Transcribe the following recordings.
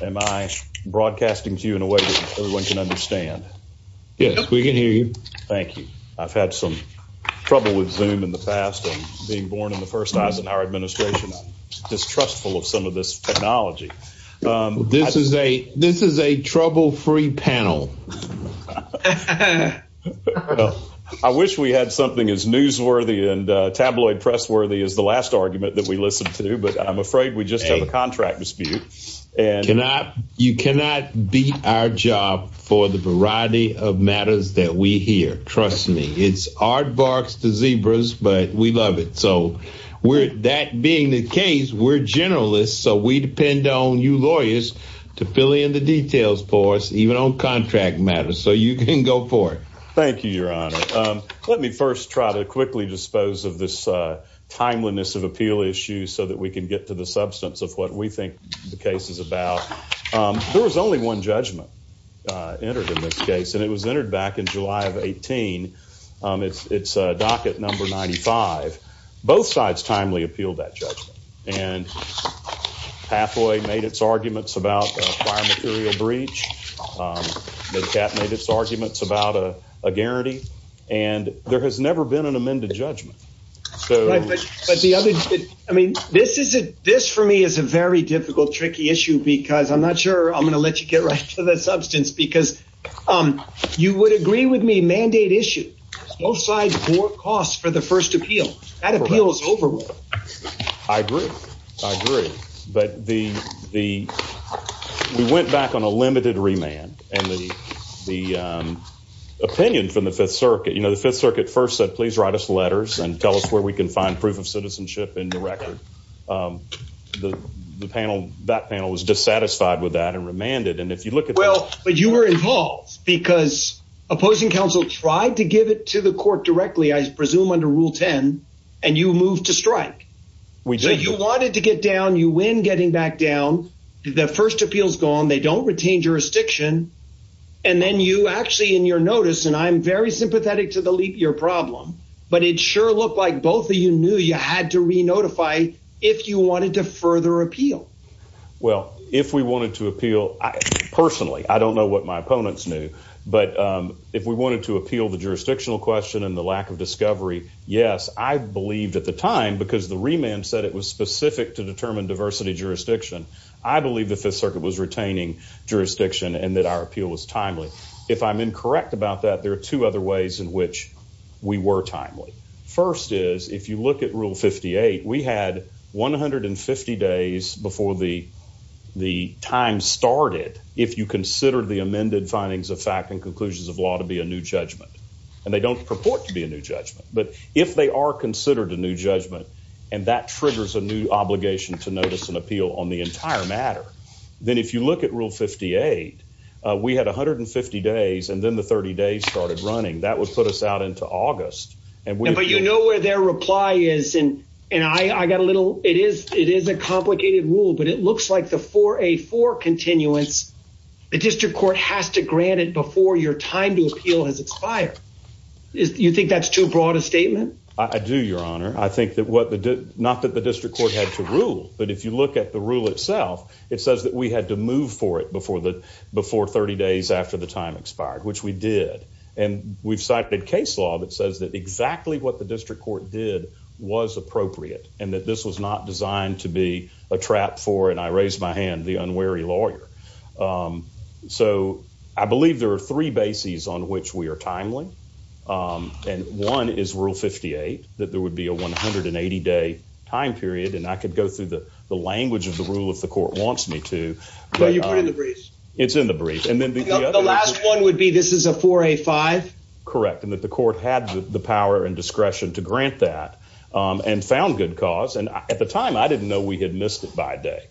Am I broadcasting to you in a way that everyone can understand? Yes, we can hear you. Thank you. I've had some trouble with zoom in the past and being born in the first time in our administration, distrustful of some of this technology. This is a this is a trouble free panel. I wish we had something as newsworthy and tabloid press worthy as the last argument that we listened to, but I'm afraid we just have a contract dispute. And you cannot you cannot beat our job for the variety of matters that we hear. Trust me, it's hard barks to zebras, but we love it. So we're that being the case, we're generalists. So we depend on you lawyers to fill in the details for us, even on contract matters. So you can go for it. Thank you, Your Honor. Let me first try to quickly dispose of this timeliness of appeal issues so that we can get to the substance of what we think the case is about. There was only one judgment entered in this case, and it was entered back in July of 18. It's it's a docket number 95. Both sides timely appealed that judgment and Pathway made its arguments about fire material breach. They kept made its arguments about a and there has never been an amended judgment. But the other I mean, this is it. This for me is a very difficult, tricky issue, because I'm not sure I'm going to let you get right to the substance, because you would agree with me mandate issue both sides for costs for the first appeal that appeals over. I agree. I agree. But the the we went back on a limited remand and the the opinion from the Fifth Circuit, you know, the Fifth Circuit first said, please write us letters and tell us where we can find proof of citizenship in the record. The panel, that panel was dissatisfied with that and remanded. And if you look at well, but you were involved because opposing counsel tried to give it to the court directly, I presume under Rule 10. And you move to strike. We do you wanted to get down you win getting back the first appeals gone, they don't retain jurisdiction. And then you actually in your notice, and I'm very sympathetic to the leap year problem. But it sure looked like both of you knew you had to re notify if you wanted to further appeal. Well, if we wanted to appeal, personally, I don't know what my opponents knew. But if we wanted to appeal the jurisdictional question and the lack of discovery, yes, I believed at the time because the remand said it was specific to I believe the Fifth Circuit was retaining jurisdiction and that our appeal was timely. If I'm incorrect about that, there are two other ways in which we were timely. First is if you look at Rule 58, we had 150 days before the the time started. If you consider the amended findings of fact and conclusions of law to be a new judgment, and they don't purport to be a new judgment. But if they are considered a new judgment and that triggers a new obligation to notice an appeal on the entire matter, then if you look at Rule 58, we had 150 days and then the 30 days started running. That would put us out into August. And but you know where their reply is and and I got a little. It is it is a complicated rule, but it looks like the 4A4 continuance. The district court has to grant it before your time to appeal has expired. You think that's too broad a statement? I do, Your Honor. I think that what the not that the district court had to rule, but if you look at the rule itself, it says that we had to move for it before the before 30 days after the time expired, which we did. And we've cited case law that says that exactly what the district court did was appropriate and that this was not designed to be a trap for, and I raised my hand, the unwary lawyer. So I believe there are three bases on which we are timely. And one is Rule 58, that there would be a 180 day time period, and I could go through the language of the rule if the court wants me to. But you put in the briefs. It's in the briefs. And then the last one would be this is a 4A5. Correct. And that the court had the power and discretion to grant that and found good cause. And at the time, I didn't know we had missed it by day.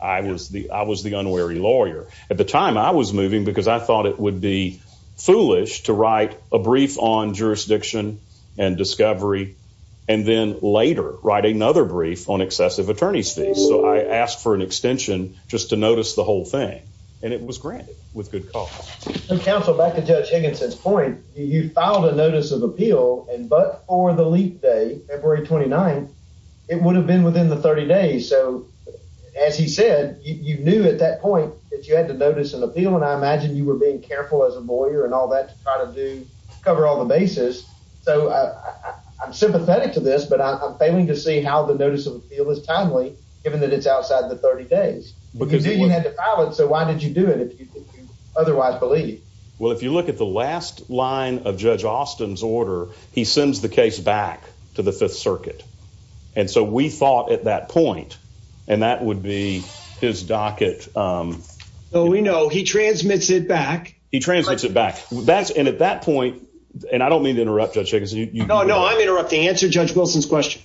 I was the I was the unwary lawyer at the time I was moving because I thought it would be and then later write another brief on excessive attorney's fees. So I asked for an extension just to notice the whole thing, and it was granted with good cause. Counsel, back to Judge Higginson's point, you filed a notice of appeal and but for the leap day, February 29th, it would have been within the 30 days. So as he said, you knew at that point that you had to notice an appeal. And I imagine you were being careful as a lawyer and all that to cover all the bases. So I'm sympathetic to this, but I'm failing to see how the notice of appeal is timely, given that it's outside the 30 days because you had to file it. So why did you do it if you otherwise believe? Well, if you look at the last line of Judge Austin's order, he sends the case back to the Fifth Circuit. And so we thought at that point and that would be his docket. So we know he transmits it back. He transmits it back. And at that point, and I don't mean to interrupt Judge Higginson. No, no, I'm interrupting. Answer Judge Wilson's question.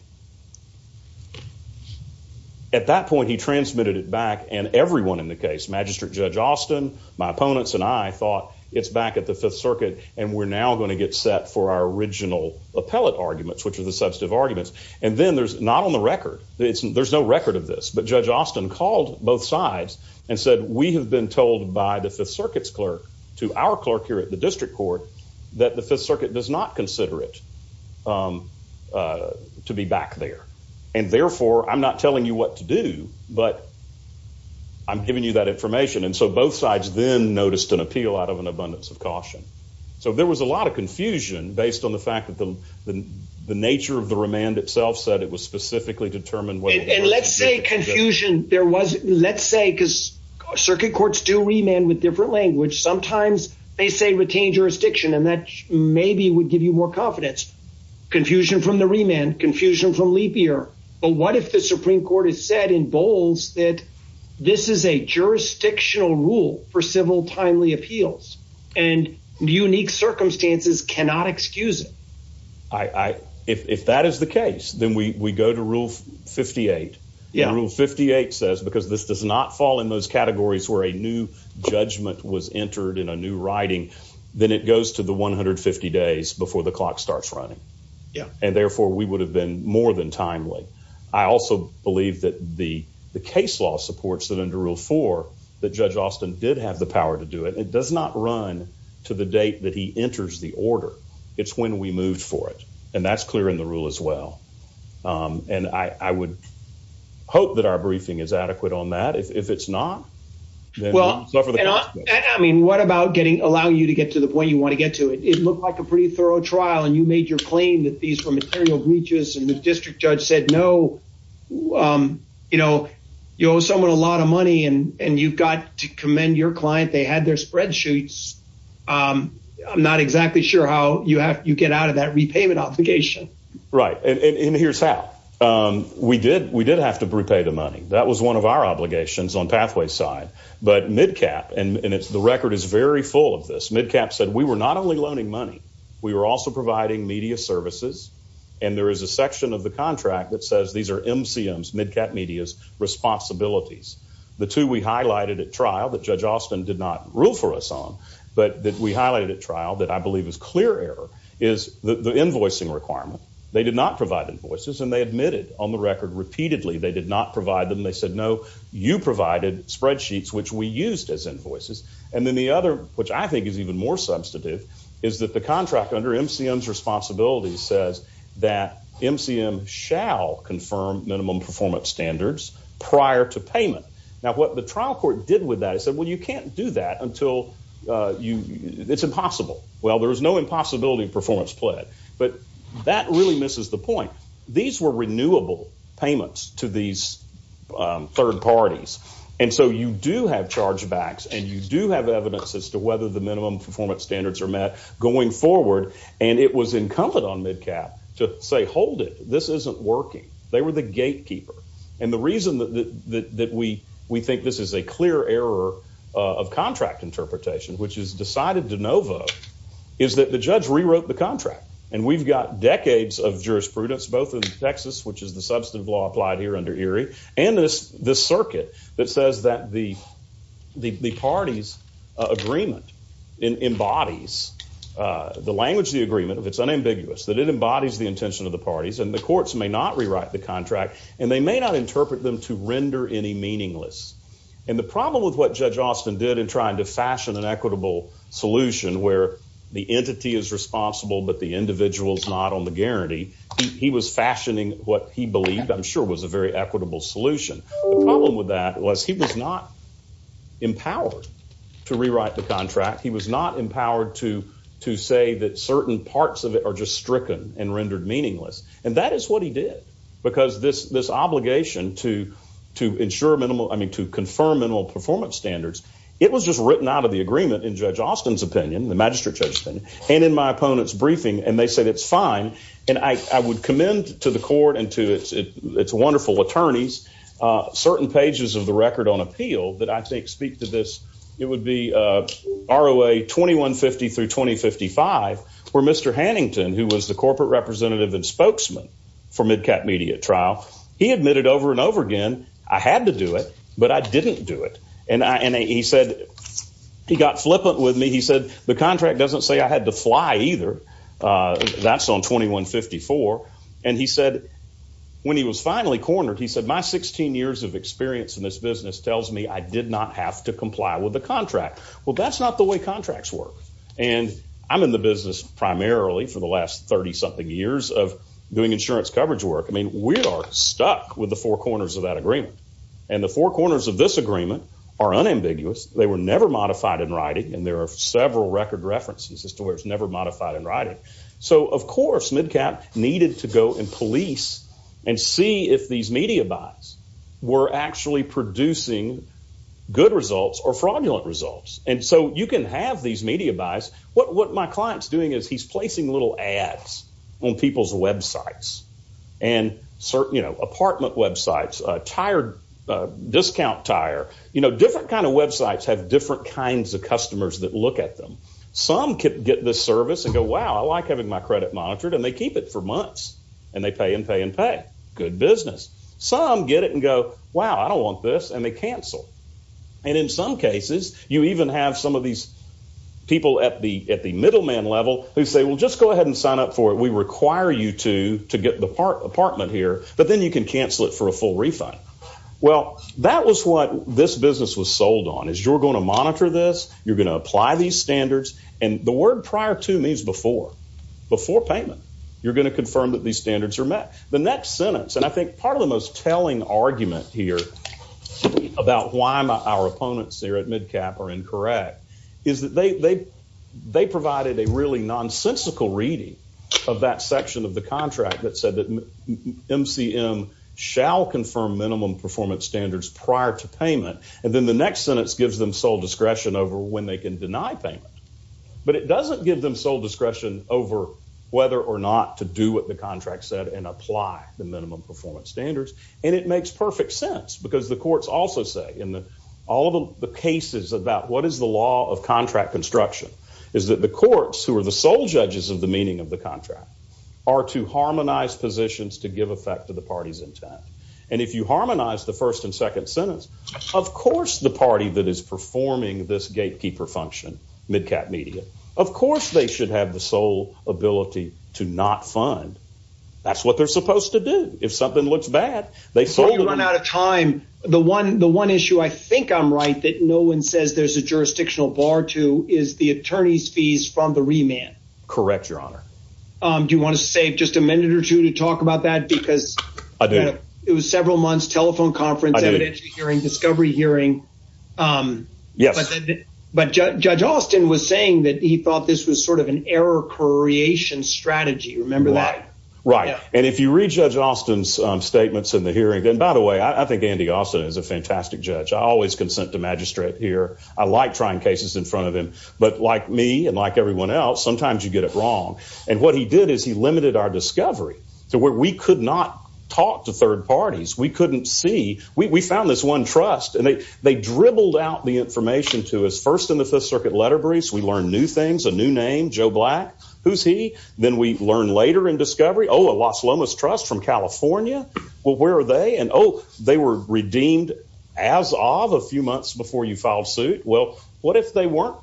At that point, he transmitted it back and everyone in the case, Magistrate Judge Austin, my opponents and I thought it's back at the Fifth Circuit and we're now going to get set for our original appellate arguments, which are the substantive arguments. And then there's not a record. There's no record of this. But Judge Austin called both sides and said, we have been told by the Fifth Circuit's clerk to our clerk here at the district court that the Fifth Circuit does not consider it to be back there. And therefore, I'm not telling you what to do, but I'm giving you that information. And so both sides then noticed an appeal out of an abundance of caution. So there was a lot of confusion based on the fact that the nature of the case was to specifically determine what. And let's say confusion there was, let's say, because circuit courts do remand with different language. Sometimes they say retain jurisdiction and that maybe would give you more confidence. Confusion from the remand, confusion from leap year. But what if the Supreme Court has said in bowls that this is a jurisdictional rule for civil timely appeals and unique circumstances cannot excuse it? I if that is the case, then we go to Rule 58. Yeah. Rule 58 says because this does not fall in those categories where a new judgment was entered in a new writing, then it goes to the 150 days before the clock starts running. Yeah. And therefore, we would have been more than timely. I also believe that the the case law supports that under rule for that Judge Austin did have power to do it. It does not run to the date that he enters the order. It's when we moved for it. And that's clear in the rule as well. And I would hope that our briefing is adequate on that. If it's not, well, I mean, what about getting allow you to get to the point you want to get to it? It looked like a pretty thorough trial and you made your claim that these were material breaches and the district judge said no. You know, you owe someone a lot of money and you've got to commend your client. They had their spreadsheets. I'm not exactly sure how you have you get out of that repayment obligation. Right. And here's how we did. We did have to repay the money. That was one of our obligations on pathway side. But Midcap and it's the record is very full of this. Midcap said we were not only loaning money, we were also providing media services. And there is a section of the contract that says these are MCM's Midcap Media's responsibilities. The two we highlighted at trial that Judge Austin did not rule for us on, but that we highlighted at trial that I believe is clear error is the invoicing requirement. They did not provide invoices and they admitted on the record repeatedly they did not provide them. They said, no, you provided spreadsheets, which we used as invoices. And then the other, which I think is even more substantive, is that the contract under MCM's responsibilities says that MCM shall confirm minimum performance standards prior to payment. Now, what the trial court did with that is said, well, you can't do that until you it's impossible. Well, there is no impossibility of performance pled. But that really misses the point. These were renewable payments to these third parties. And so you do have charge backs and you do have evidence as to whether the minimum performance standards are met going forward. And it was incumbent on Midcap to say, hold it. This isn't working. They were the gate and the reason that we think this is a clear error of contract interpretation, which is decided de novo, is that the judge rewrote the contract. And we've got decades of jurisprudence, both in Texas, which is the substantive law applied here under Erie, and this circuit that says that the party's agreement embodies the language, the agreement, if it's unambiguous, that it embodies the intention of the parties and the courts may not rewrite the contract and they may not interpret them to render any meaningless. And the problem with what Judge Austin did in trying to fashion an equitable solution where the entity is responsible, but the individual is not on the guarantee. He was fashioning what he believed, I'm sure, was a very equitable solution. The problem with that was he was not empowered to rewrite the contract. He was not empowered to to say that meaningless. And that is what he did. Because this obligation to ensure minimal, I mean, to confirm minimal performance standards, it was just written out of the agreement in Judge Austin's opinion, the Magistrate Judge's opinion, and in my opponent's briefing, and they said it's fine. And I would commend to the court and to its wonderful attorneys, certain pages of the record on appeal that I think speak to this. It would be ROA 2150 through 2055, where Mr. Hannington, who was the corporate representative and spokesman for MidCat Media Trial, he admitted over and over again, I had to do it, but I didn't do it. And he said, he got flippant with me. He said, the contract doesn't say I had to fly either. That's on 2154. And he said, when he was finally cornered, he said, my 16 years of experience in this business tells me I did not have to comply with the contract. Well, that's not the way contracts work. And I'm in the business primarily for the last 30-something years of doing insurance coverage work. I mean, we are stuck with the four corners of that agreement. And the four corners of this agreement are unambiguous. They were never modified in writing, and there are several record references as to where it's never modified in writing. So, of course, MidCat needed to go and police and see if these media buys were actually producing good results or fraudulent results. And so you can have these media buys. What my client's doing is he's placing little ads on people's websites, apartment websites, discount tire. Different kind of websites have different kinds of customers that look at them. Some get this service and go, wow, I like having my credit monitored. And they keep it for months. And they pay and pay and pay. Good business. Some get it and go, wow, I don't want this. And they cancel. And in some cases, you even have some of these people at the middleman level who say, well, just go ahead and sign up for it. We require you to get the apartment here. But then you can cancel it for a full refund. Well, that was what this business was sold on, is you're going to monitor this. You're going to apply these standards. And the word prior to means before, before payment. You're going to confirm that these standards are met. The next sentence, and I think part of the telling argument here about why our opponents here at MidCap are incorrect, is that they provided a really nonsensical reading of that section of the contract that said that MCM shall confirm minimum performance standards prior to payment. And then the next sentence gives them sole discretion over when they can deny payment. But it doesn't give them sole discretion over whether or not to do what the contract said and apply the minimum performance standards. And it makes perfect sense, because the courts also say in all of the cases about what is the law of contract construction is that the courts, who are the sole judges of the meaning of the contract, are to harmonize positions to give effect to the party's intent. And if you harmonize the first and second sentence, of course the party that is performing this gatekeeper function, MidCap Media, of course they should have the sole ability to not fund. That's what they're supposed to do. If something looks bad, they sold it. You run out of time. The one issue I think I'm right that no one says there's a jurisdictional bar to is the attorney's fees from the remand. Correct, your honor. Do you want to save just a minute or two to talk about that? Because it was several months, telephone conference, inventory hearing, discovery hearing. Yes. But Judge Austin was saying that he thought this was sort of an error creation strategy. Remember that? Right. And if you read Judge Austin's statements in the hearing, and by the way, I think Andy Austin is a fantastic judge. I always consent to magistrate here. I like trying cases in front of him. But like me and like everyone else, sometimes you get it wrong. And what he did is he limited our discovery to where we could not talk to third parties. We couldn't see. We found this trust. And they dribbled out the information to us. First in the Fifth Circuit letter briefs, we learned new things, a new name, Joe Black. Who's he? Then we learned later in discovery, oh, a Los Lomas trust from California. Well, where are they? And oh, they were redeemed as of a few months before you filed suit. Well, what if they weren't?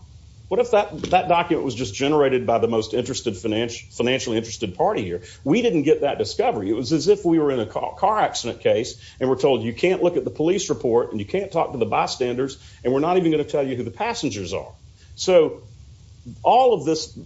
What if that document was just generated by the most financially interested party here? We didn't get that discovery. It was as if we were in and you can't talk to the bystanders, and we're not even going to tell you who the passengers are. So all of this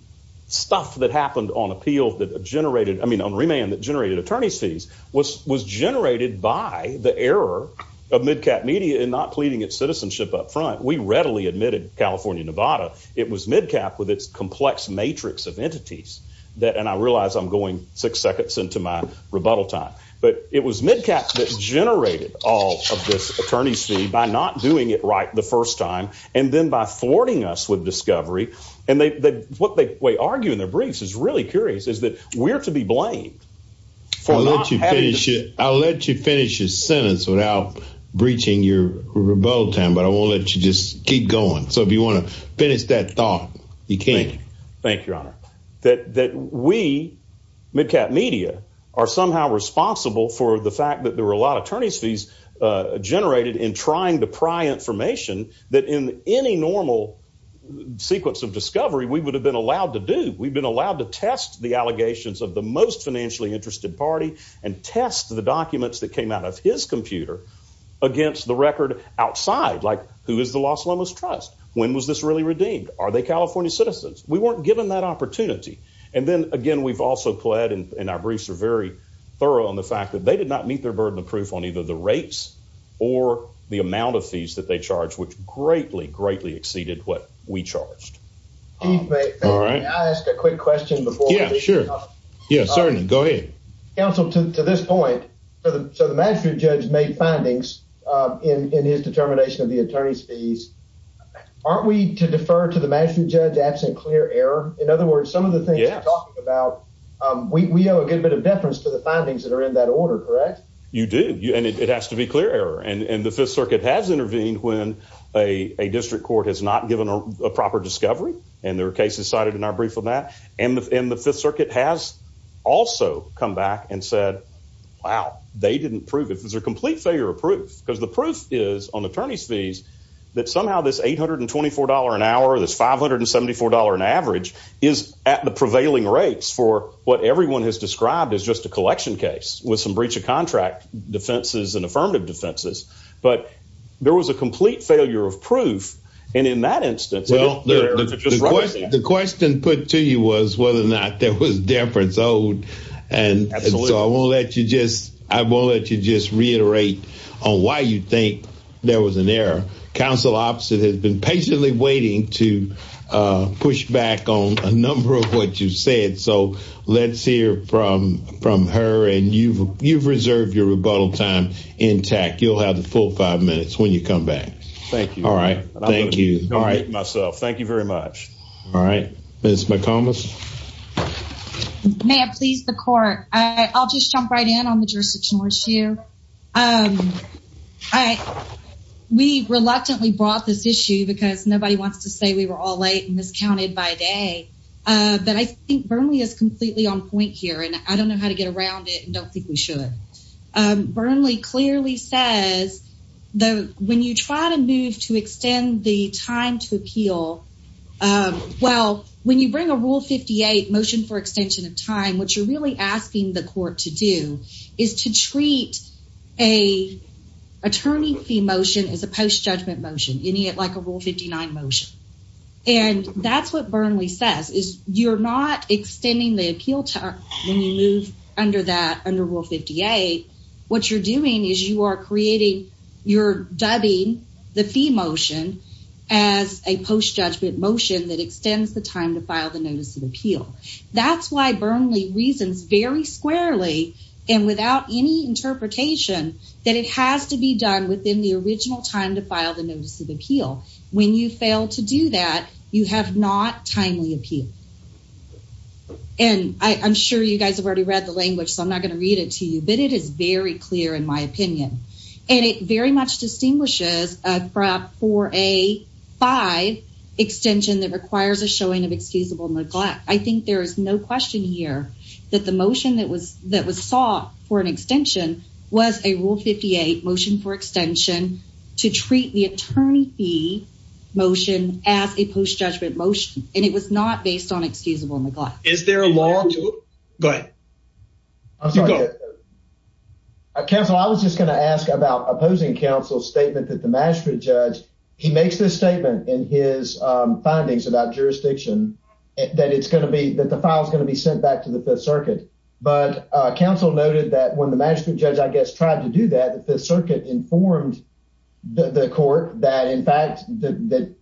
stuff that happened on appeal that generated, I mean, on remand that generated attorney's fees was generated by the error of MidCap Media in not pleading its citizenship up front. We readily admitted, California, Nevada, it was MidCap with its complex matrix of entities. And I realize I'm going six seconds into my rebuttal time. But it was MidCap that generated all of this attorney's fee by not doing it right the first time, and then by thwarting us with discovery. And what they argue in their briefs is really curious, is that we're to be blamed for not having- I'll let you finish your sentence without breaching your rebuttal time, but I won't let you just keep going. So if you want to finish that thought, you can. Thank you, Your Honor. That we, MidCap Media, are somehow responsible for the fact that there is evidence generated in trying to pry information that in any normal sequence of discovery we would have been allowed to do. We've been allowed to test the allegations of the most financially interested party and test the documents that came out of his computer against the record outside. Like, who is the Los Lomos Trust? When was this really redeemed? Are they California citizens? We weren't given that opportunity. And then, again, we've also pled, and our briefs are very or the amount of fees that they charge, which greatly, greatly exceeded what we charged. Chief, may I ask a quick question before we- Yeah, sure. Yeah, certainly. Go ahead. Counsel, to this point, so the magistrate judge made findings in his determination of the attorney's fees. Aren't we to defer to the magistrate judge absent clear error? In other words, some of the things you're talking about, we owe a good bit of deference to the findings that are in that order, correct? You do. And it has to be clear error. And the Fifth Circuit has intervened when a district court has not given a proper discovery. And there are cases cited in our brief on that. And the Fifth Circuit has also come back and said, wow, they didn't prove it. This is a complete failure of proof. Because the proof is on attorney's fees that somehow this $824 an hour, this $574 an average is at the prevailing rates for what everyone has described as just a collection case with some breach of contract defenses and affirmative defenses. But there was a complete failure of proof. And in that instance- The question put to you was whether or not there was deference owed. Absolutely. And so I won't let you just reiterate on why you think there was an error. Counsel, the opposite has been patiently waiting to push back on a number of what you've said. So let's hear from her. And you've reserved your rebuttal time intact. You'll have the full five minutes when you come back. Thank you. All right. Thank you. And I will admit myself. Thank you very much. All right. Ms. McComas? May I please the court? I'll just jump right in on the jurisdictional issue. All right. We reluctantly brought this issue because nobody wants to say we were all late and miscounted by day. But I think Burnley is completely on point here. And I don't know how to get around it and don't think we should. Burnley clearly says that when you try to move to extend the time to appeal, well, when you bring a Rule 58 motion for extension of time, what you're really asking the court to do is to treat a attorney fee motion as a post-judgment motion, like a Rule 59 motion. And that's what Burnley says is you're not extending the appeal time when you move under that, under Rule 58. What you're doing is you are creating, you're dubbing the fee motion as a post-judgment motion that extends the time to file the notice of reasons very squarely and without any interpretation that it has to be done within the original time to file the notice of appeal. When you fail to do that, you have not timely appeal. And I'm sure you guys have already read the language, so I'm not going to read it to you, but it is very clear in my opinion. And it very much distinguishes a 4A5 extension that requires a showing of excusable neglect. I think there is no question here that the motion that was that was sought for an extension was a Rule 58 motion for extension to treat the attorney fee motion as a post-judgment motion, and it was not based on excusable neglect. Is there a law to... Go ahead. Counsel, I was just going to ask about opposing counsel's statement that the magistrate judge, he makes this statement in his findings about jurisdiction that it's going to be that the file is going to be sent back to the Fifth Circuit. But counsel noted that when the magistrate judge, I guess, tried to do that, the Fifth Circuit informed the court that, in fact, the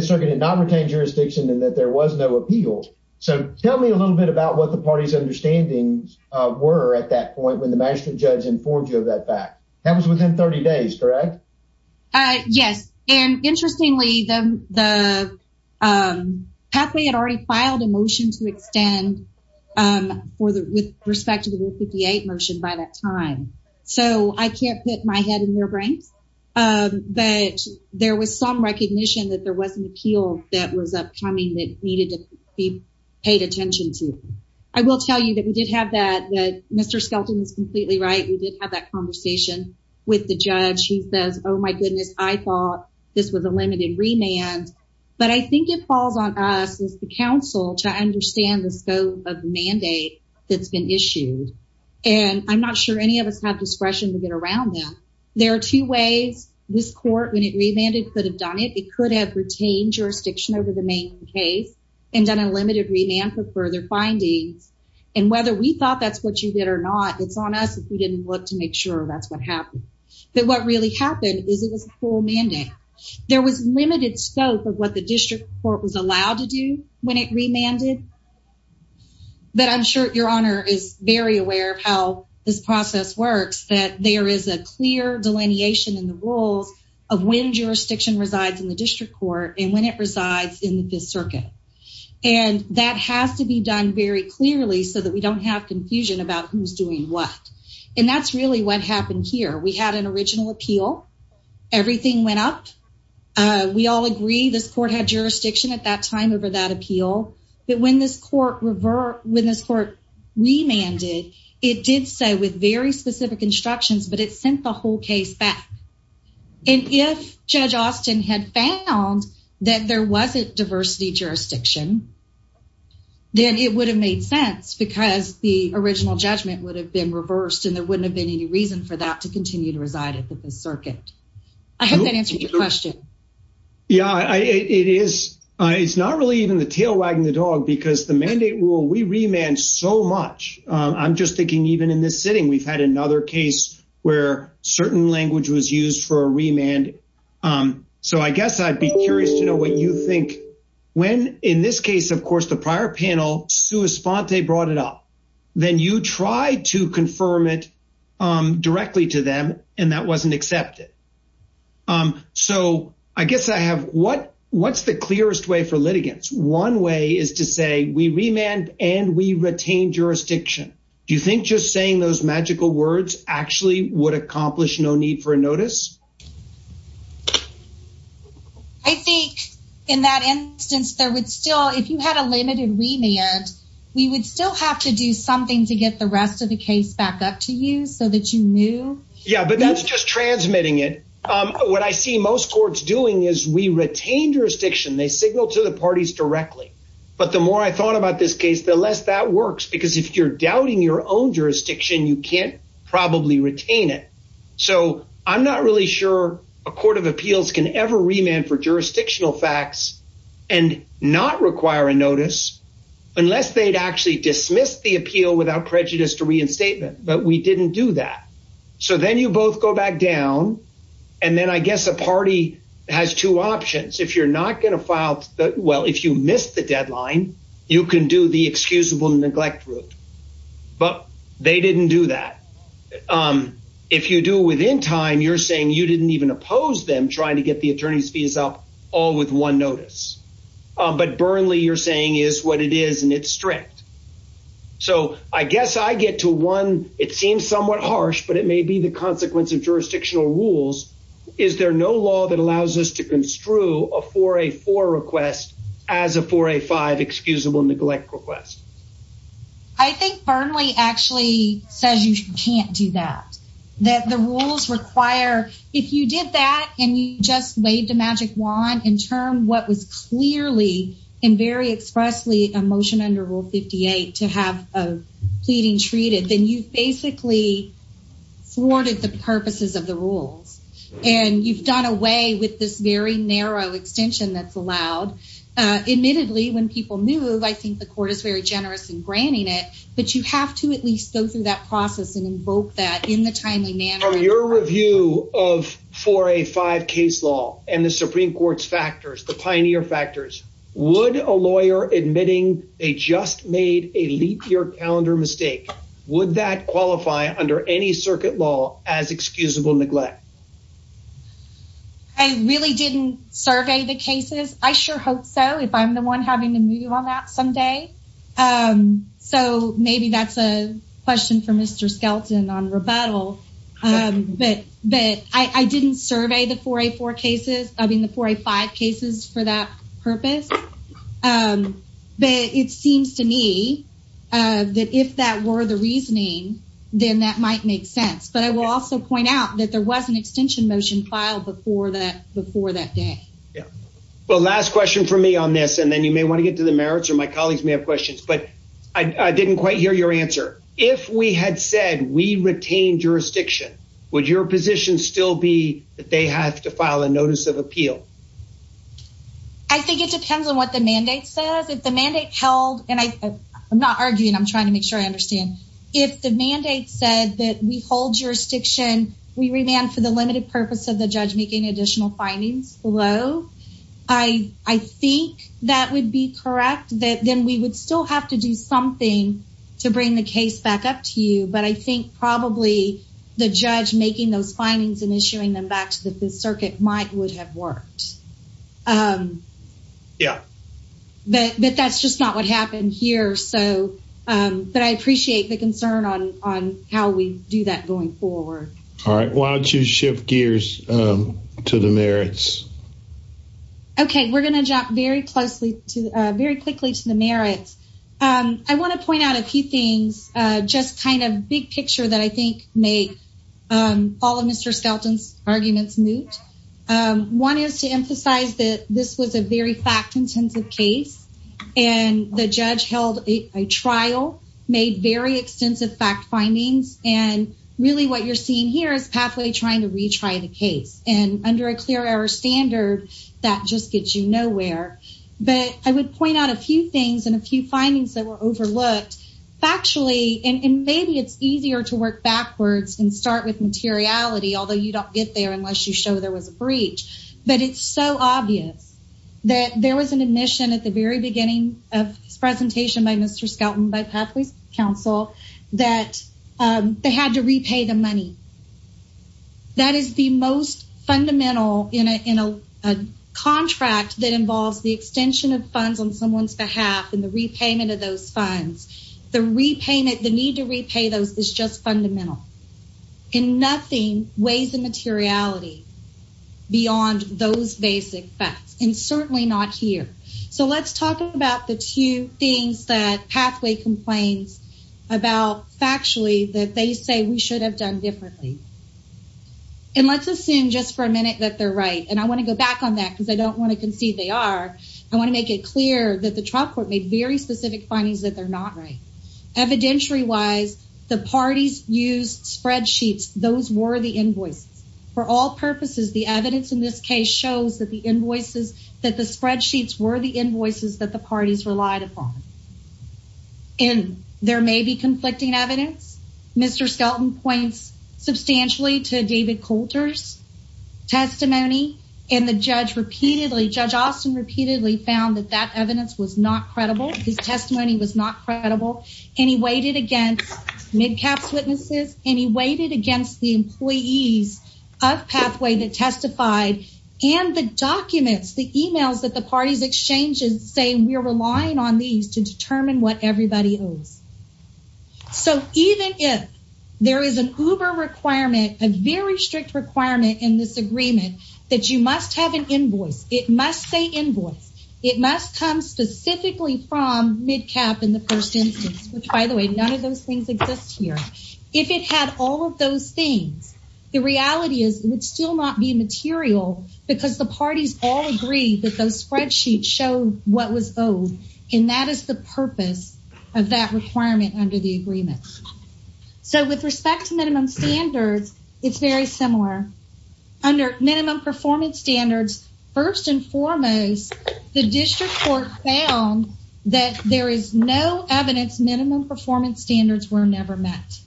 circuit did not retain jurisdiction and that there was no appeal. So tell me a little bit about what the party's understandings were at that point when the magistrate judge informed you of that fact. That was within 30 days, correct? Uh, yes. And interestingly, the pathway had already filed a motion to extend with respect to the Rule 58 motion by that time. So I can't put my head in their brains, but there was some recognition that there was an appeal that was upcoming that needed to be paid attention to. I will tell you that we did have that. Mr. Skelton is completely right. We did have that conversation with the judge. He says, oh my goodness, I thought this was a limited remand. But I think it falls on us as the counsel to understand the scope of the mandate that's been issued. And I'm not sure any of us have discretion to get around them. There are two ways this court, when it remanded, could have done it. It could have retained jurisdiction over the main case and done a limited remand for further findings. And whether we did or not, it's on us if we didn't look to make sure that's what happened. But what really happened is it was a full mandate. There was limited scope of what the district court was allowed to do when it remanded. But I'm sure your honor is very aware of how this process works, that there is a clear delineation in the rules of when jurisdiction resides in the district court and when it resides in the Fifth Circuit. And that has to be done very clearly so that we don't have confusion about who's doing what. And that's really what happened here. We had an original appeal. Everything went up. We all agree this court had jurisdiction at that time over that appeal. But when this court remanded, it did so with very specific instructions, but it sent the whole case back. And if Judge Austin had found that there wasn't diversity jurisdiction, then it would have made sense because the original judgment would have been reversed and there wouldn't have been any reason for that to continue to reside at the Fifth Circuit. I hope that answers your question. Yeah, it is. It's not really even the tail wagging the dog because the mandate rule, we remand so much. I'm just thinking even in this sitting, we've had another case where certain language was used for a remand. So I guess I'd be curious to know what you think when in this case, of course, the prior panel, Sua Sponte brought it up, then you try to confirm it directly to them and that wasn't accepted. So I guess I have what what's the clearest way for litigants? One way is to say we remand and we retain jurisdiction. Do you think just saying those magical words actually would accomplish no need for a notice? I think in that instance, there would still if you had a limited remand, we would still have to do something to get the rest of the case back up to you so that you knew. Yeah, but that's just transmitting it. What I see most courts doing is we retain jurisdiction, they signal to the parties directly. But the more I thought about this case, the less that works, because if you're doubting your own jurisdiction, you can't probably retain it. So I'm not really sure a court of appeals can ever remand for jurisdictional facts and not require a notice unless they'd actually dismiss the appeal without prejudice to reinstatement. But we didn't do that. So then you both go back down. And then I guess a party has two options if you're not going to file that. Well, if you missed the deadline, you can do the excusable neglect route. But they didn't do that. If you do within time, you're saying you didn't even oppose them trying to get the attorney's fees up all with one notice. But Burnley, you're saying is what it is, and it's strict. So I guess I get to one, it seems somewhat harsh, but it may be the consequence of jurisdictional rules. Is there no law that allows us to construe a 4A4 request as a 4A5 excusable neglect request? I think Burnley actually says you can't do that. That the rules require, if you did that, and you just waved a magic wand and turned what was clearly and very expressly a motion under Rule 58 to have a pleading treated, then you've basically thwarted the purposes of the rules. And you've done away with this very narrow extension that's allowed. Admittedly, when people move, I think the court is very generous in granting it. But you have to at least go through that process and invoke that in the timely manner. From your review of 4A5 case law and the Supreme Court's factors, the pioneer factors, would a lawyer admitting they just made a leap year calendar mistake, would that qualify under any circuit law as excusable neglect? I really didn't survey the cases. I sure hope so, if I'm the one having to move on that someday. So maybe that's a question for Mr. Skelton on rebuttal. But I didn't survey the 4A4 cases, the 4A5 cases for that purpose. But it seems to me that if that were the reasoning, then that might make sense. But I will also point out that there was an extension motion filed before that day. Well, last question for me on this, and then you may want to get to the merits, or my colleagues may have questions. But I didn't quite hear your answer. If we had said we retain jurisdiction, would your position still be that they have to file a notice of appeal? I think it depends on what the mandate says. If the mandate held, and I'm not arguing, I'm trying to make sure I understand. If the mandate said that we hold jurisdiction, we remand for the limited purpose of the judge making additional findings below, I think that would be correct, that then we would still have to do something to bring the case back up to you. But I think probably the judge making those circuit might have worked. But that's just not what happened here. But I appreciate the concern on how we do that going forward. All right. Why don't you shift gears to the merits? Okay. We're going to jump very quickly to the merits. I want to point out a few things, just kind of big picture that I think make all of Mr. Skelton's arguments moot. One is to emphasize that this was a very fact-intensive case, and the judge held a trial, made very extensive fact findings, and really what you're seeing here is Pathway trying to retry the case. And under a clear error standard, that just gets you nowhere. But I would point out a few things and a few findings that were overlooked factually, and maybe it's easier to work backwards and start with materiality, although you don't get there unless you show there was a breach. But it's so obvious that there was an admission at the very beginning of this presentation by Mr. Skelton, by Pathway's counsel, that they had to repay the money. That is the most fundamental in a contract that involves the extension of funds on someone's behalf and the repayment of those funds. The repayment, the need to repay those is just fundamental. And nothing weighs the materiality beyond those basic facts, and certainly not here. So let's talk about the two things that that they say we should have done differently. And let's assume just for a minute that they're right. And I want to go back on that because I don't want to concede they are. I want to make it clear that the trial court made very specific findings that they're not right. Evidentiary-wise, the parties used spreadsheets. Those were the invoices. For all purposes, the evidence in this case shows that the invoices, that the spreadsheets were the invoices that the parties relied upon. And there may be conflicting evidence. Mr. Skelton points substantially to David Coulter's testimony. And the judge repeatedly, Judge Austin repeatedly found that that evidence was not credible. His testimony was not credible. And he weighed it against MidCap's witnesses. And he weighed it against the employees of Pathway that testified. And the documents, the emails that the parties exchanges say we're relying on these to determine what everybody owes. So even if there is an Uber requirement, a very strict requirement in this agreement, that you must have an invoice, it must say invoice, it must come specifically from MidCap in the first instance, which by the way, none of those things exist here. If it had all those things, the reality is it would still not be material because the parties all agree that those spreadsheets show what was owed. And that is the purpose of that requirement under the agreement. So with respect to minimum standards, it's very similar. Under minimum performance standards, first and foremost, the district court found that there is no evidence minimum performance standards were never met.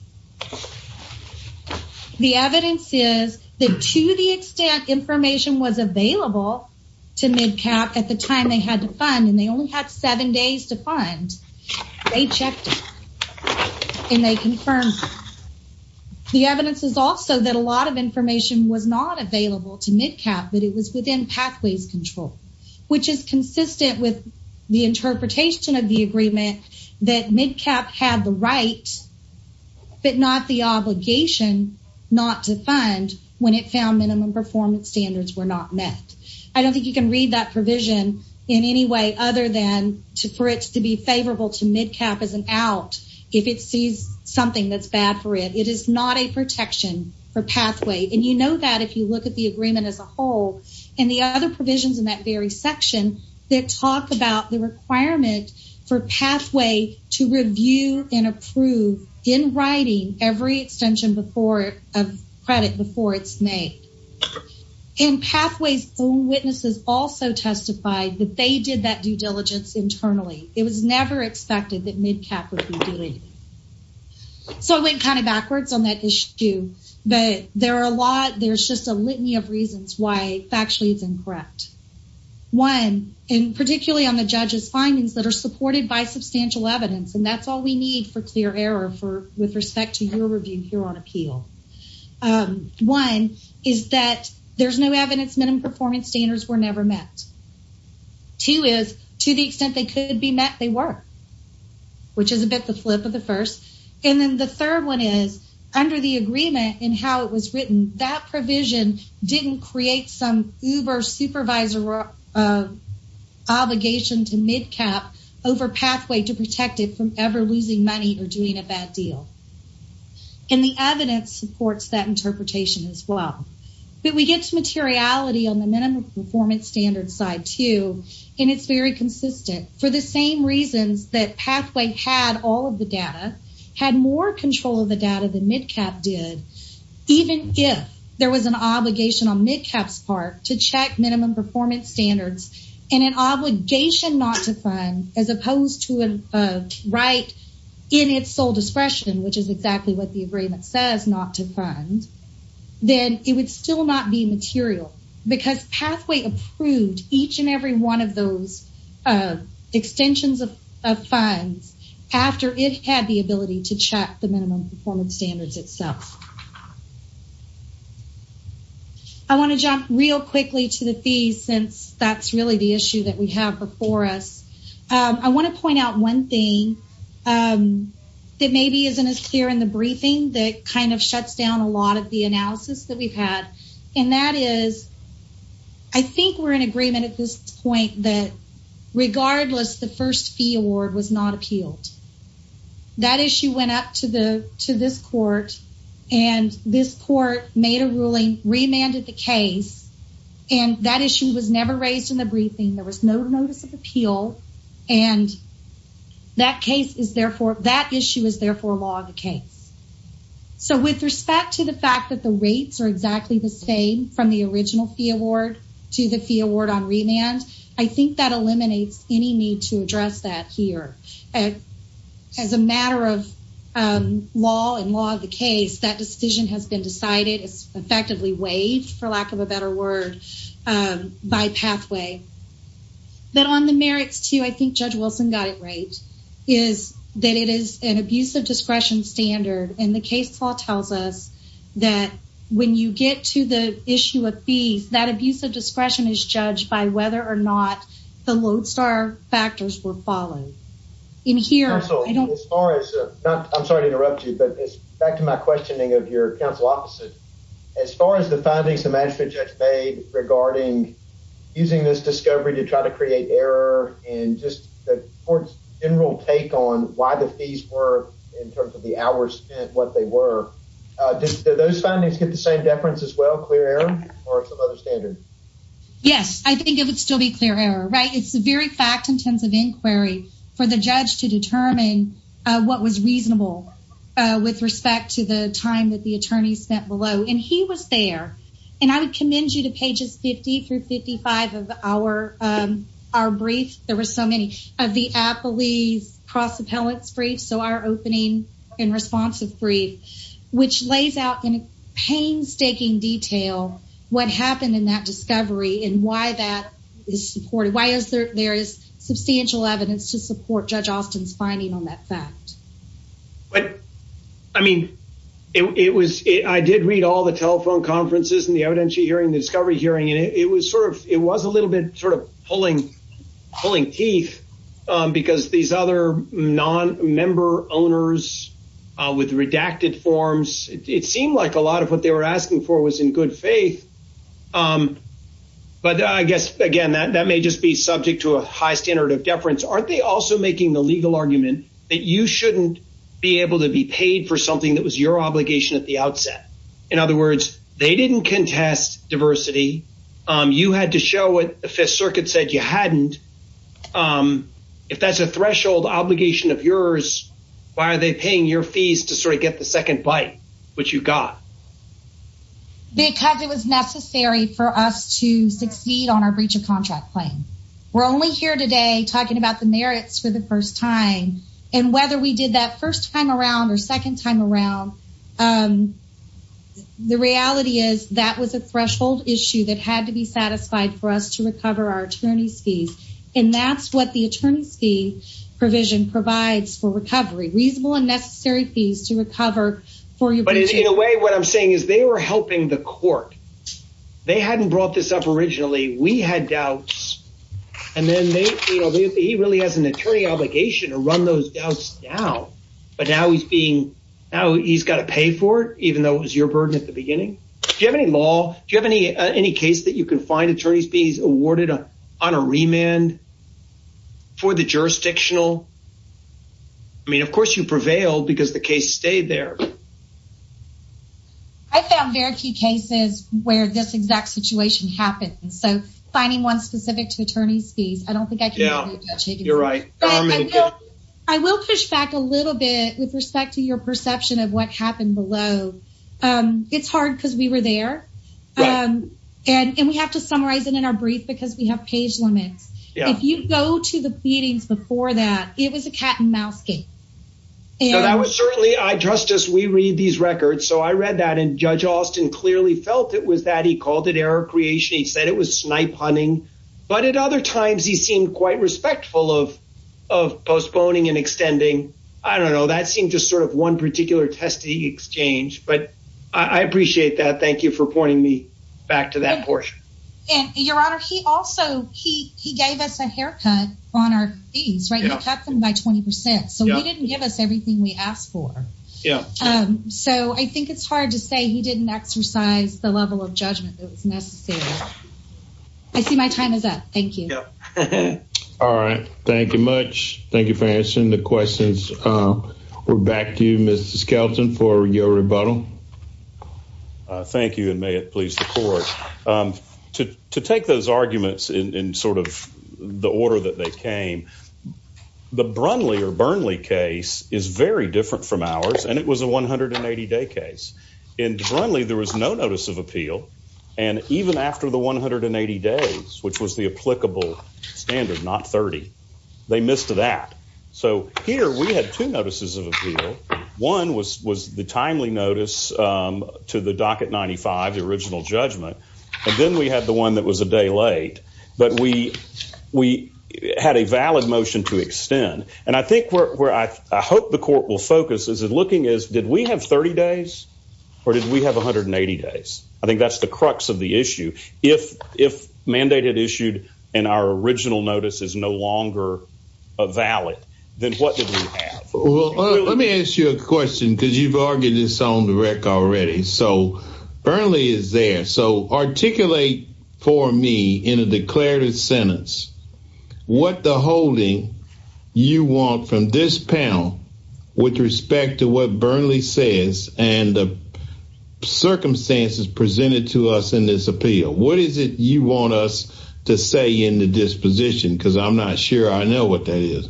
The evidence is that to the extent information was available to MidCap at the time they had to fund, and they only had seven days to fund, they checked it. And they confirmed the evidence is also that a lot of information was not available to MidCap, but it was within Pathways control, which is consistent with the interpretation of the agreement, that it was right, but not the obligation not to fund when it found minimum performance standards were not met. I don't think you can read that provision in any way other than for it to be favorable to MidCap as an out if it sees something that's bad for it. It is not a protection for Pathways. And you know that if you look at the agreement as a whole and the other provisions in that very section that talk about the requirement for Pathways to review and approve in writing every extension of credit before it's made. And Pathways own witnesses also testified that they did that due diligence internally. It was never expected that MidCap would be doing it. So I went kind of backwards on that issue, but there are a lot, there's just a litany of reasons why factually it's incorrect. One, and particularly on the judge's findings that are supported by substantial evidence, and that's all we need for clear error with respect to your review here on appeal. One is that there's no evidence minimum performance standards were never met. Two is, to the extent they could be met, they were, which is a bit the flip of the first. And then the third one is, under the agreement and how it was written, that provision didn't create some uber supervisor obligation to MidCap over Pathway to protect it from ever losing money or doing a bad deal. And the evidence supports that interpretation as well. But we get to materiality on the minimum performance standard side too, and it's very consistent. For the same reasons that control of the data that MidCap did, even if there was an obligation on MidCap's part to check minimum performance standards and an obligation not to fund, as opposed to a right in its sole discretion, which is exactly what the agreement says not to fund, then it would still not be material because Pathway approved each and every one of those extensions of funds after it had the minimum performance standards itself. I want to jump real quickly to the fees since that's really the issue that we have before us. I want to point out one thing that maybe isn't as clear in the briefing that kind of shuts down a lot of the analysis that we've had, and that is, I think we're in agreement at this point that regardless the first fee award was not appealed. That issue went up to this court, and this court made a ruling, remanded the case, and that issue was never raised in the briefing. There was no notice of appeal, and that issue is therefore law of the case. So with respect to the fact that the rates are exactly the same from the original fee award to the fee award on remand, I think that eliminates any need to address that here. As a matter of law and law of the case, that decision has been decided. It's effectively waived, for lack of a better word, by Pathway. Then on the merits too, I think Judge Wilson got it right, is that it is an abuse of discretion standard, and the case law tells us that when you get to the issue of fees, that abuse of discretion is judged by whether or not the counsel... Counsel, as far as... I'm sorry to interrupt you, but it's back to my questioning of your counsel opposite. As far as the findings the management judge made regarding using this discovery to try to create error, and just the court's general take on why the fees were, in terms of the hours spent, what they were, did those findings get the same deference as well, clear error, or some other standard? Yes, I think it would still be clear error, right? It's a very fact-intensive inquiry for the judge to determine what was reasonable with respect to the time that the attorney spent below, and he was there. I would commend you to pages 50 through 55 of our brief. There were so many of the appellee's cross-appellate's brief, so our opening and responsive brief, which lays out in painstaking detail what happened in that substantial evidence to support Judge Austin's finding on that fact. But, I mean, it was... I did read all the telephone conferences, and the evidentiary hearing, the discovery hearing, and it was sort of... it was a little bit sort of pulling teeth, because these other non-member owners with redacted forms, it seemed like a lot of what they were asking for was in good faith, but I guess, again, that may just be subject to a standard of deference. Aren't they also making the legal argument that you shouldn't be able to be paid for something that was your obligation at the outset? In other words, they didn't contest diversity. You had to show what the Fifth Circuit said you hadn't. If that's a threshold obligation of yours, why are they paying your fees to sort of get the second bite, which you got? Because it was necessary for us to succeed on our breach of contract claim. We're only here today talking about the merits for the first time, and whether we did that first time around or second time around, the reality is that was a threshold issue that had to be satisfied for us to recover our attorney's fees, and that's what the attorney's fee provision provides for recovery. Reasonable and necessary fees to recover for you. But, in a way, what I'm saying is they were helping the court. They hadn't brought this up originally. We had doubts, and then he really has an attorney obligation to run those doubts down, but now he's got to pay for it, even though it was your burden at the beginning. Do you have any law? Do you have any case that you can find attorneys being awarded on a remand for the jurisdictional? I mean, of course, you prevailed because the case stayed there. I found very few cases where this exact situation happened, so finding one specific to attorney's fees, I don't think I can. Yeah, you're right. I will push back a little bit with respect to your perception of what happened below. It's hard because we were there, and we have to summarize it in our brief because we have page limits. If you go to the meetings before that, it was a cat-and-mouse game. I trust us. We read these records, so I read that, and Judge Austin clearly felt it was that. He called it error creation. He said it was snipe hunting, but at other times, he seemed quite respectful of postponing and extending. I don't know. That seemed just sort of one particular testing exchange, but I appreciate that. Thank you for pointing me back to that portion. Your Honor, he also gave us a haircut on our fees. We cut them by 20%, so he didn't give us everything we asked for. I think it's hard to say he didn't exercise the level of judgment that was necessary. I see my time is up. Thank you. All right. Thank you much. Thank you for answering the questions. We're back to you, Mr. Skelton, for your rebuttal. Thank you, and may it please the court. To take those arguments in sort of the order that they came, the Brunley or Burnley case is very different from ours, and it was a 180-day case. In Brunley, there was no notice of appeal, and even after the 180 days, which was the applicable standard, not 30, they missed that. Here, we had two notices of appeal. One was the timely notice to the Docket 95, the original judgment, and then we had the one that was a day late, but we had a valid motion to extend, and I think where I hope the court will focus is looking as did we have 30 days or did we have 180 days? I think that's the crux of the issue. If mandated issued and our original notice is no longer valid, then what did we have? Let me ask you a question because you've argued this on the record already. Burnley is there, so articulate for me in a declarative sentence what the holding you want from this panel with respect to what Burnley says and the circumstances presented to us in this appeal. What is it you want us to say in the disposition, because I'm not sure I know what that is.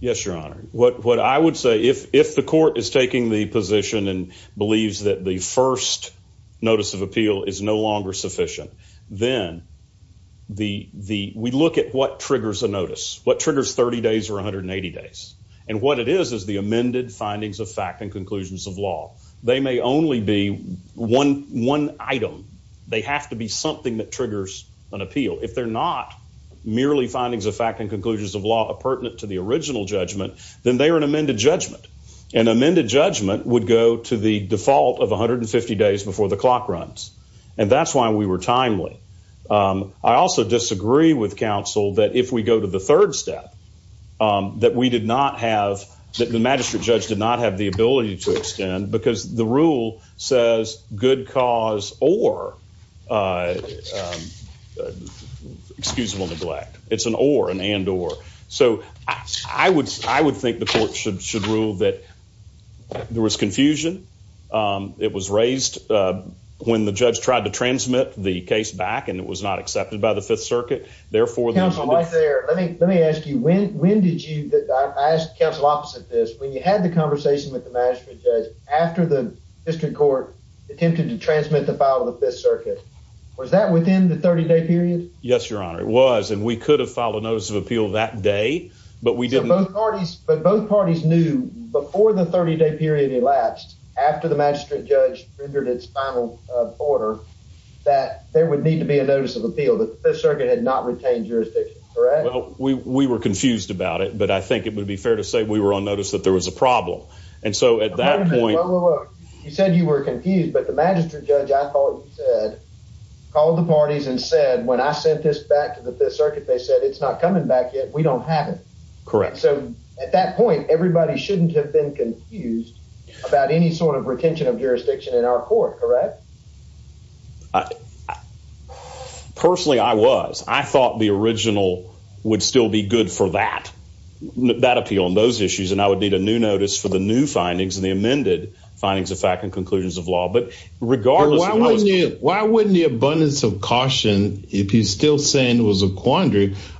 Yes, your honor. What I would say, if the court is position and believes that the first notice of appeal is no longer sufficient, then we look at what triggers a notice, what triggers 30 days or 180 days, and what it is is the amended findings of fact and conclusions of law. They may only be one item. They have to be something that triggers an appeal. If they're not merely findings of fact and conclusions of law pertinent to the original judgment, an amended judgment would go to the default of 150 days before the clock runs, and that's why we were timely. I also disagree with counsel that if we go to the third step, that we did not have, that the magistrate judge did not have the ability to extend because the rule says good cause or excusable neglect. It's an or, an and or. So, I would think the court should rule that there was confusion. It was raised when the judge tried to transmit the case back, and it was not accepted by the Fifth Circuit. Therefore, let me ask you, when did you, that I asked counsel opposite this, when you had the conversation with the magistrate judge after the district court attempted to transmit the file of the Fifth Circuit, was that within the 30-day period? Yes, your honor. It was, and we could have filed a notice of appeal that day, but we didn't. Both parties, but both parties knew before the 30-day period elapsed, after the magistrate judge rendered its final order, that there would need to be a notice of appeal that the Fifth Circuit had not retained jurisdiction, correct? Well, we were confused about it, but I think it would be fair to say we were on notice that there was a problem, and so at that point. You said you were confused, but the magistrate judge, I thought you said, called the parties and said, when I sent this back to the Fifth Circuit, they said it's not back yet, we don't have it. Correct. So, at that point, everybody shouldn't have been confused about any sort of retention of jurisdiction in our court, correct? Personally, I was. I thought the original would still be good for that, that appeal and those issues, and I would need a new notice for the new findings and the amended findings of fact and conclusions of law, but regardless. Why wouldn't you, why wouldn't the abundance of I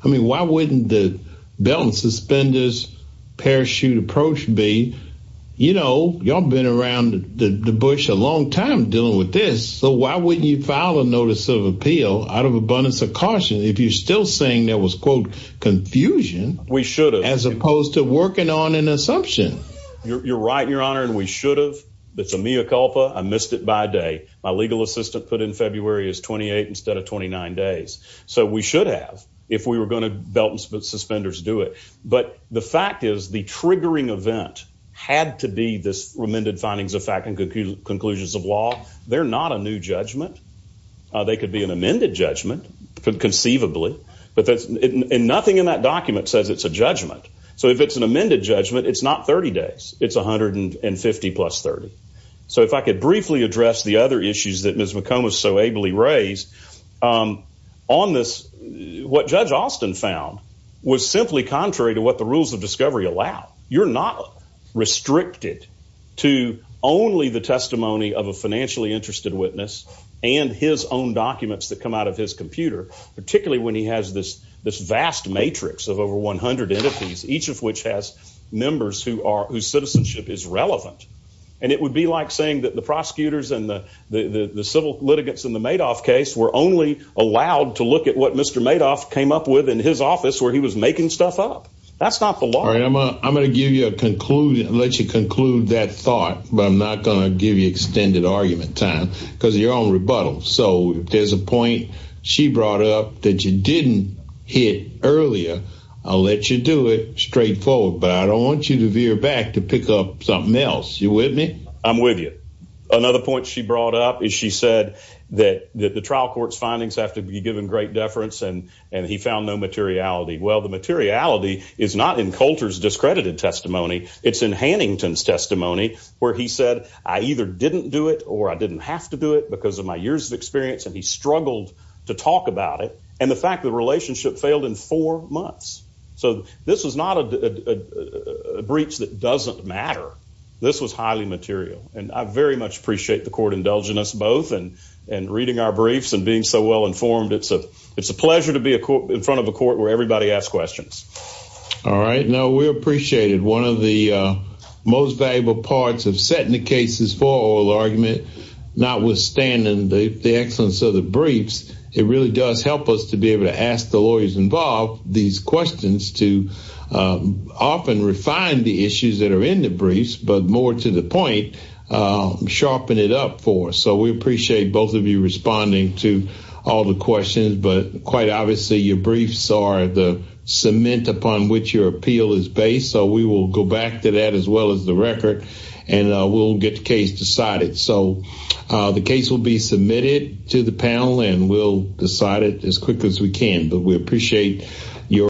mean, why wouldn't the belt and suspenders parachute approach be, you know, y'all been around the Bush a long time dealing with this, so why wouldn't you file a notice of appeal out of abundance of caution if you're still saying there was, quote, confusion. We should have. As opposed to working on an assumption. You're right, Your Honor, and we should have. That's a mea culpa. I missed it by a day. My legal assistant put in February is 28 instead of 29 days, so we should have if we were going to belt and suspenders do it, but the fact is the triggering event had to be this amended findings of fact and conclusions of law. They're not a new judgment. They could be an amended judgment conceivably, but that's, and nothing in that document says it's a judgment, so if it's an amended judgment, it's not 30 days. It's 150 plus 30. So if I could briefly address the other issues that Ms. McComb was so ably raised on this, what Judge Austin found was simply contrary to what the rules of discovery allow. You're not restricted to only the testimony of a financially interested witness and his own documents that come out of his computer, particularly when he has this vast matrix of over 100 entities, each of which has members who are whose citizenship is relevant, and it would be like saying that the prosecutors and the civil litigants in the Madoff case were only allowed to look at what Mr. Madoff came up with in his office where he was making stuff up. That's not the law. All right, I'm gonna give you a conclusion, let you conclude that thought, but I'm not gonna give you extended argument time because of your own rebuttal. So there's a point she brought up that you didn't hit earlier. I'll let you do it straightforward, but I don't want you to veer back to pick up something else. You with me? I'm with you. Another point she brought up is she said that the trial court's findings have to be given great deference and he found no materiality. Well, the materiality is not in Coulter's discredited testimony. It's in Hannington's testimony where he said, I either didn't do it or I didn't have to do it because of my years of experience, and he struggled to talk about it. And the fact that the relationship failed in four months. So this was not a breach that doesn't matter. This was highly material. And I very much appreciate the court indulging us both and reading our briefs and being so well informed. It's a pleasure to be in front of a court where everybody asks questions. All right. Now, we appreciated one of the most valuable parts of setting the case's argument, notwithstanding the excellence of the briefs. It really does help us to be able to ask the lawyers involved these questions to often refine the issues that are in the briefs, but more to the point, sharpen it up for us. So we appreciate both of you responding to all the questions, but quite obviously, your briefs are the cement upon which your appeal is based. So we will go back to that as well as the record and we'll get the case decided. So the case will be submitted to the panel and we'll decide it as quick as we can. But we appreciate your